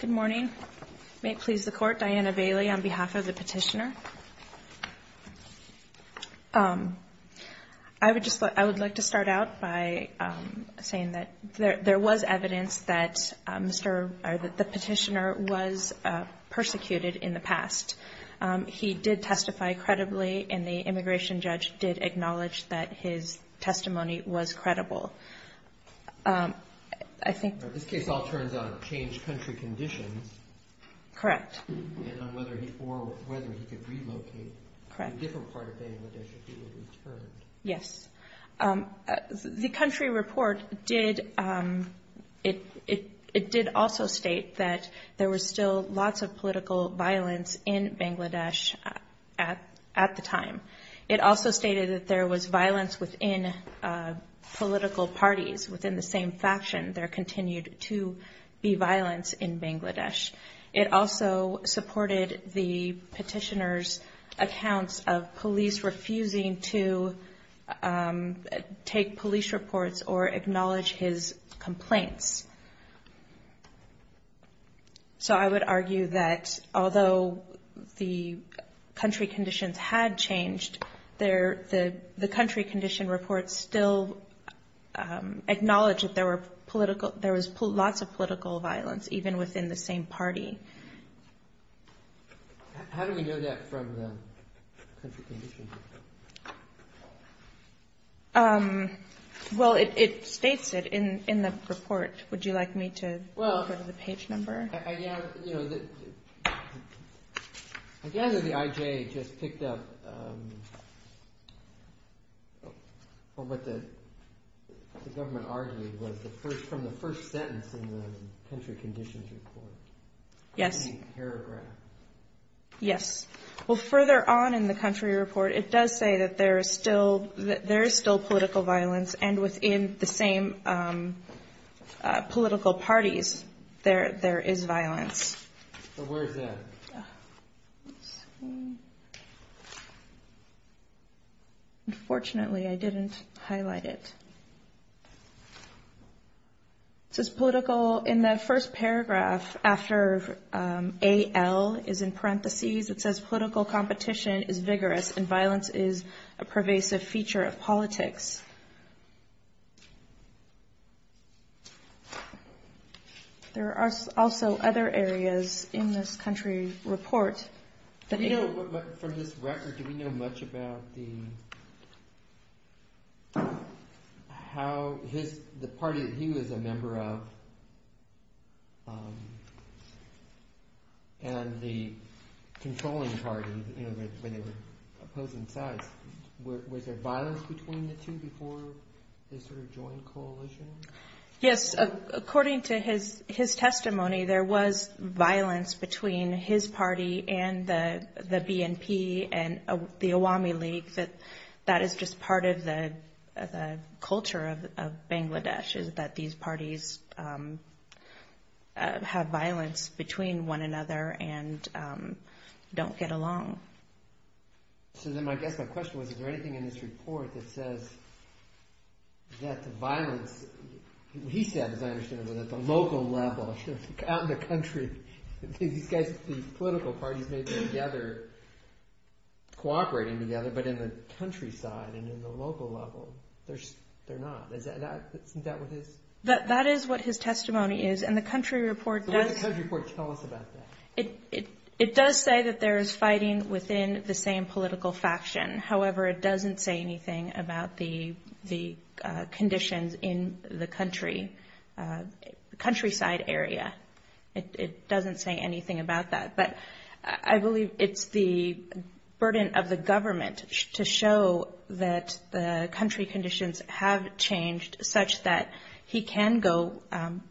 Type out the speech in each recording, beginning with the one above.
Good morning. May it please the Court, Diana Bailey on behalf of the petitioner. I would like to start out by saying that there was evidence that the petitioner was persecuted in the past. He did testify credibly, and the immigration judge did acknowledge that his testimony was credible. This case all turns on changed country conditions, and on whether he could relocate to a different part of Bangladesh if he were returned. Yes. The country report did also state that there was still lots of political violence in Bangladesh at the time. It also stated that there was violence within political parties within the same faction. There continued to be violence in Bangladesh. It also supported the petitioner's accounts of police refusing to take police reports or acknowledge his complaints. So I would argue that although the country conditions had changed, the country condition report still acknowledged that there was lots of political violence even within the same party. How do we know that from the country condition report? Well, it states it in the report. Would you like me to go to the page number? I gather the IJ just picked up what the government argued was from the first sentence in the country conditions report. Yes. The main paragraph. Yes. Well, further on in the country report, it does say that there is still political violence, and within the same political parties there is violence. Where is that? Unfortunately, I didn't highlight it. It says political in the first paragraph after AL is in parentheses. It says political competition is vigorous and violence is a pervasive feature of politics. There are also other areas in this country report. From this record, do we know much about the party that he was a member of and the controlling party when they were opposing sides? Was there violence between the two before they sort of joined coalition? Yes. According to his testimony, there was violence between his party and the BNP and the Awami League. That is just part of the culture of Bangladesh is that these parties have violence between one another and don't get along. So then I guess my question was, is there anything in this report that says that the violence, he said, as I understand it, was at the local level. Out in the country, these guys, these political parties may be together, cooperating together, but in the countryside and in the local level, they're not. Isn't that what it is? That is what his testimony is, and the country report does... So what does the country report tell us about that? It does say that there is fighting within the same political faction. However, it doesn't say anything about the conditions in the country, countryside area. It doesn't say anything about that. But I believe it's the burden of the government to show that the country conditions have changed such that he can go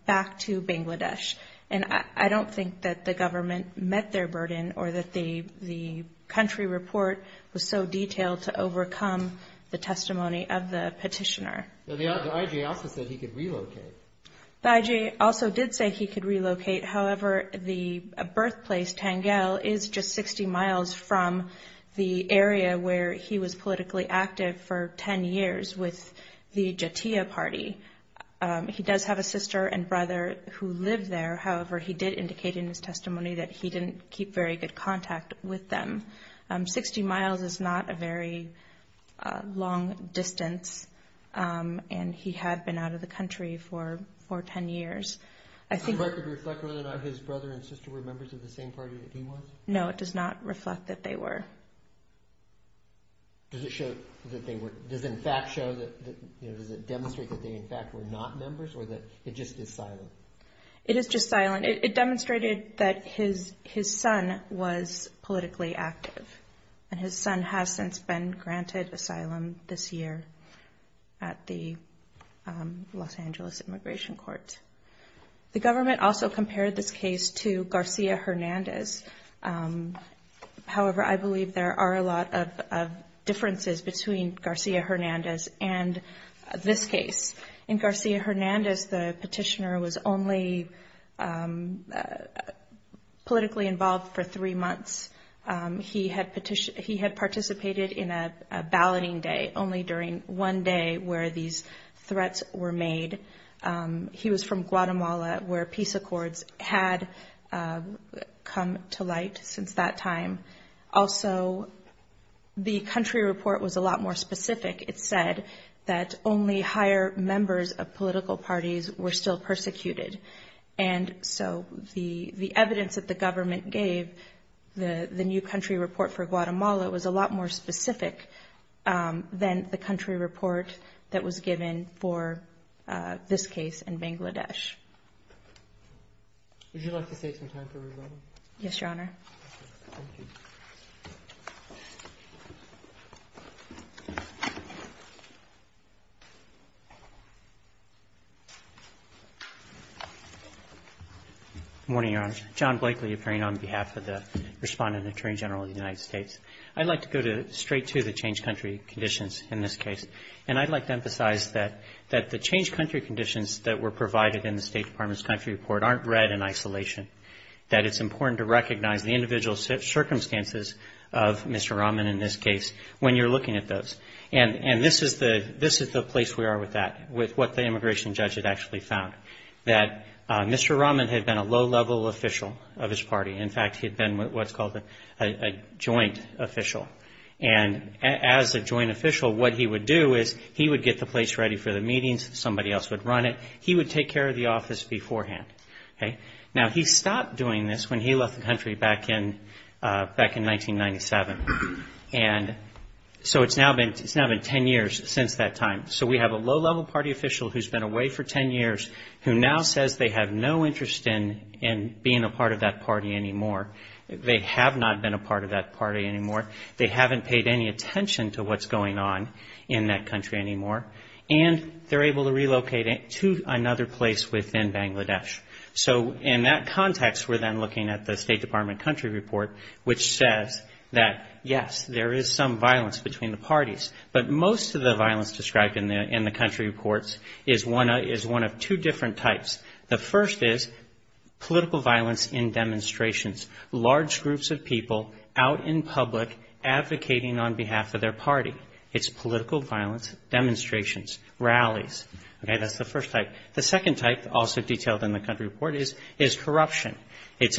back to Bangladesh. And I don't think that the government met their burden or that the country report was so detailed to overcome the testimony of the petitioner. The IJ also said he could relocate. The IJ also did say he could relocate. However, the birthplace, Tangel, is just 60 miles from the area where he was politically active for 10 years with the Jatia party. He does have a sister and brother who live there. However, he did indicate in his testimony that he didn't keep very good contact with them. Sixty miles is not a very long distance, and he had been out of the country for 10 years. Does the record reflect whether or not his brother and sister were members of the same party that he was? No, it does not reflect that they were. Does it show that they were – does it in fact show that – does it demonstrate that they in fact were not members or that it just is silent? It is just silent. It demonstrated that his son was politically active, and his son has since been granted asylum this year at the Los Angeles Immigration Court. The government also compared this case to Garcia Hernandez. However, I believe there are a lot of differences between Garcia Hernandez and this case. In Garcia Hernandez, the petitioner was only politically involved for three months. He had participated in a balloting day only during one day where these threats were made. He was from Guatemala where peace accords had come to light since that time. Also, the country report was a lot more specific. It said that only higher members of political parties were still persecuted. And so the evidence that the government gave, the new country report for Guatemala, was a lot more specific than the country report that was given for this case in Bangladesh. Would you like to take some time for rebuttal? Yes, Your Honor. Thank you. Good morning, Your Honor. John Blakely appearing on behalf of the respondent attorney general of the United States. I'd like to go straight to the changed country conditions in this case. And I'd like to emphasize that the changed country conditions that were provided in the State Department's country report aren't read in isolation, that it's important to recognize the individual circumstances of Mr. Rahman in this case when you're looking at those. And this is the place we are with that, with what the immigration judge had actually found, that Mr. Rahman had been a low-level official of his party. In fact, he had been what's called a joint official. And as a joint official, what he would do is he would get the place ready for the meetings. Somebody else would run it. He would take care of the office beforehand. Now, he stopped doing this when he left the country back in 1997. And so it's now been 10 years since that time. So we have a low-level party official who's been away for 10 years, who now says they have no interest in being a part of that party anymore. They have not been a part of that party anymore. They haven't paid any attention to what's going on in that country anymore. And they're able to relocate to another place within Bangladesh. So in that context, we're then looking at the State Department country report, which says that, yes, there is some violence between the parties. But most of the violence described in the country reports is one of two different types. The first is political violence in demonstrations, large groups of people out in public advocating on behalf of their party. It's political violence, demonstrations, rallies. That's the first type. The second type, also detailed in the country report, is corruption. It's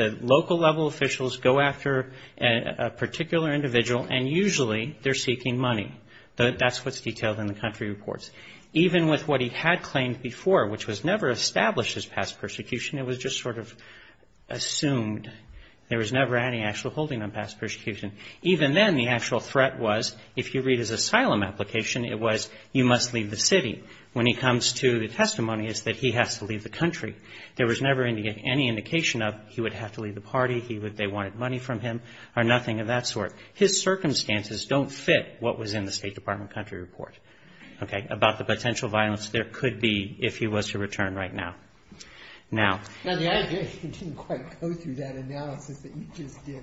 a local-level officials go after a particular individual, and usually they're seeking money. That's what's detailed in the country reports. Even with what he had claimed before, which was never established as past persecution, it was just sort of assumed there was never any actual holding on past persecution. Even then, the actual threat was, if you read his asylum application, it was, you must leave the city. When he comes to the testimony, it's that he has to leave the country. There was never any indication of he would have to leave the party, they wanted money from him, or nothing of that sort. His circumstances don't fit what was in the State Department country report, okay, about the potential violence there could be if he was to return right now. Now, the idea is he didn't quite go through that analysis that you just did.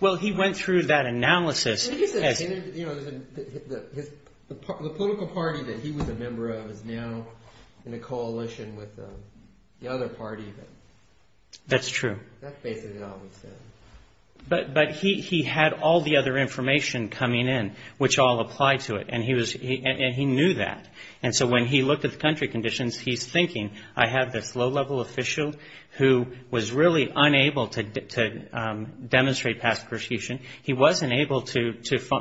Well, he went through that analysis. The political party that he was a member of is now in a coalition with the other party. That's true. That's basically all it was then. But he had all the other information coming in, which all applied to it, and he knew that. And so when he looked at the country conditions, he's thinking, I have this low-level official who was really unable to demonstrate past persecution. He wasn't able to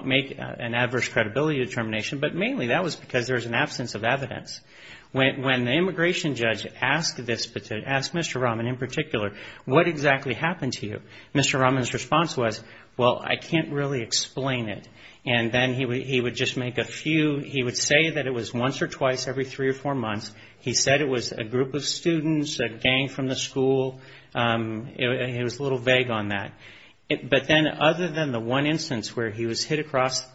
make an adverse credibility determination, but mainly that was because there was an absence of evidence. When the immigration judge asked Mr. Rahman in particular, what exactly happened to you, Mr. Rahman's response was, well, I can't really explain it. And then he would just make a few, he would say that it was once or twice every three or four months. He said it was a group of students, a gang from the school. He was a little vague on that. But then other than the one instance where he was hit across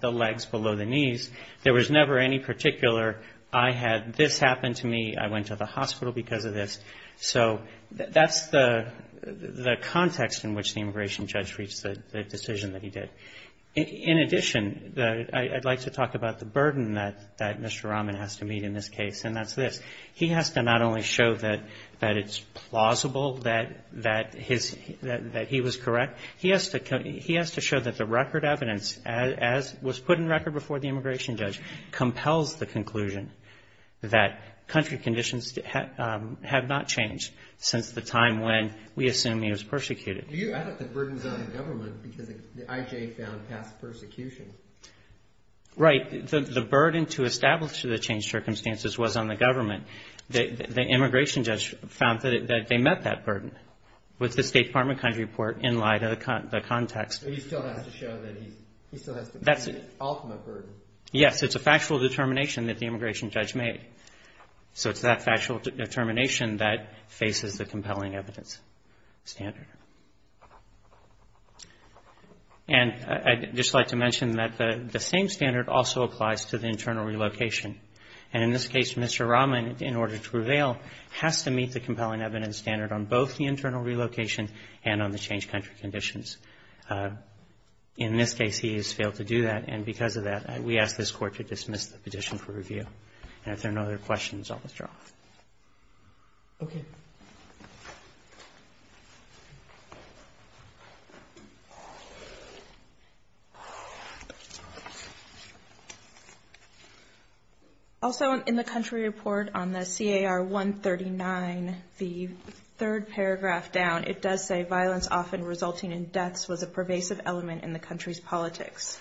the legs below the knees, there was never any particular, I had this happen to me, I went to the hospital because of this. So that's the context in which the immigration judge reached the decision that he did. In addition, I'd like to talk about the burden that Mr. Rahman has to meet in this case, and that's this. He has to not only show that it's plausible that he was correct, he has to show that the record evidence, as was put in record before the immigration judge, compels the conclusion that country conditions have not changed since the time when we assume he was persecuted. Do you add up the burdens on the government because the IJ found past persecution? Right. The burden to establish the changed circumstances was on the government. The immigration judge found that they met that burden with the State Department country report in light of the context. But he still has to show that he's, he still has to meet the ultimate burden. Yes, it's a factual determination that the immigration judge made. So it's that factual determination that faces the compelling evidence standard. And I'd just like to mention that the same standard also applies to the internal relocation. And in this case, Mr. Rahman, in order to reveal, has to meet the compelling evidence standard on both the internal relocation and on the changed country conditions. In this case, he has failed to do that, and because of that, we ask this Court to dismiss the petition for review. And if there are no other questions, I'll withdraw. Okay. Also in the country report on the CAR 139, the third paragraph down, it does say violence often resulting in deaths was a pervasive element in the country's politics.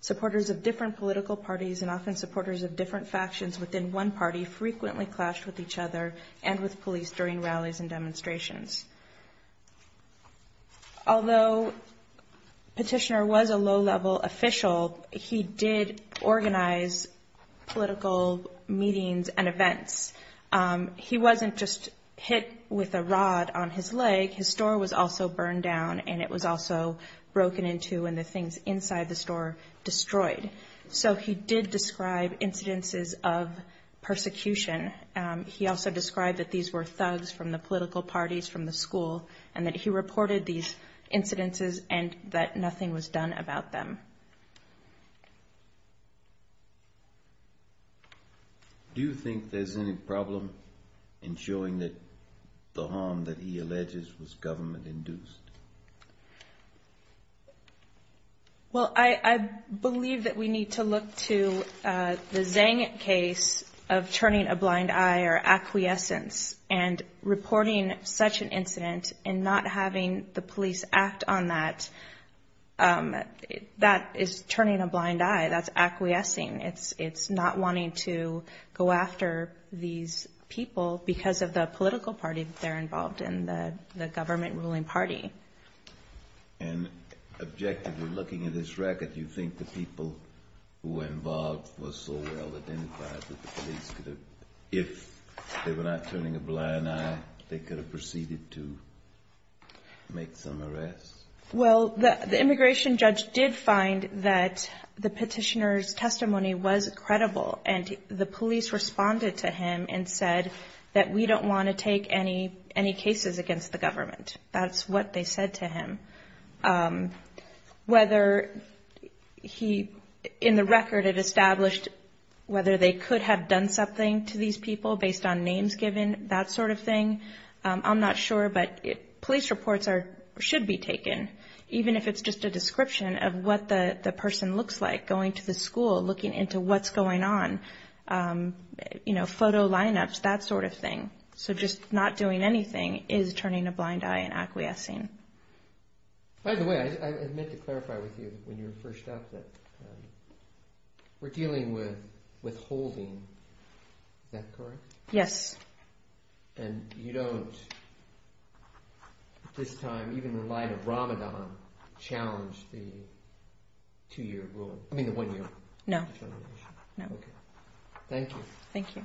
Supporters of different political parties and often supporters of different factions within one party frequently clashed with each other and with police during rallies and demonstrations. Although Petitioner was a low-level official, he did organize political meetings and events. He wasn't just hit with a rod on his leg. His store was also burned down, and it was also broken into, and the things inside the store destroyed. So he did describe incidences of persecution. He also described that these were thugs from the political parties, from the school, and that he reported these incidences and that nothing was done about them. Do you think there's any problem in showing that the harm that he alleges was government-induced? Well, I believe that we need to look to the Zhang case of turning a blind eye or acquiescence and reporting such an incident and not having the police act on that. That is turning a blind eye. That's acquiescing. It's not wanting to go after these people because of the political party that they're involved in, the government-ruling party. And objectively, looking at this record, do you think the people who were involved were so well-identified that the police could have, if they were not turning a blind eye, they could have proceeded to make some arrests? Well, the immigration judge did find that the petitioner's testimony was credible, and the police responded to him and said that we don't want to take any cases against the government. That's what they said to him. Whether he, in the record, had established whether they could have done something to these people based on names given, that sort of thing, I'm not sure, but police reports should be taken, even if it's just a description of what the person looks like, going to the school, looking into what's going on, photo lineups, that sort of thing. So just not doing anything is turning a blind eye and acquiescing. By the way, I meant to clarify with you when you were first out that we're dealing with withholding. Is that correct? Yes. And you don't, at this time, even in light of Ramadan, challenge the two-year rule? I mean the one-year determination? No. Thank you. Thank you. Thank you.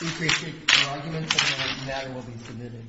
We appreciate your arguments, and the matter will be submitted.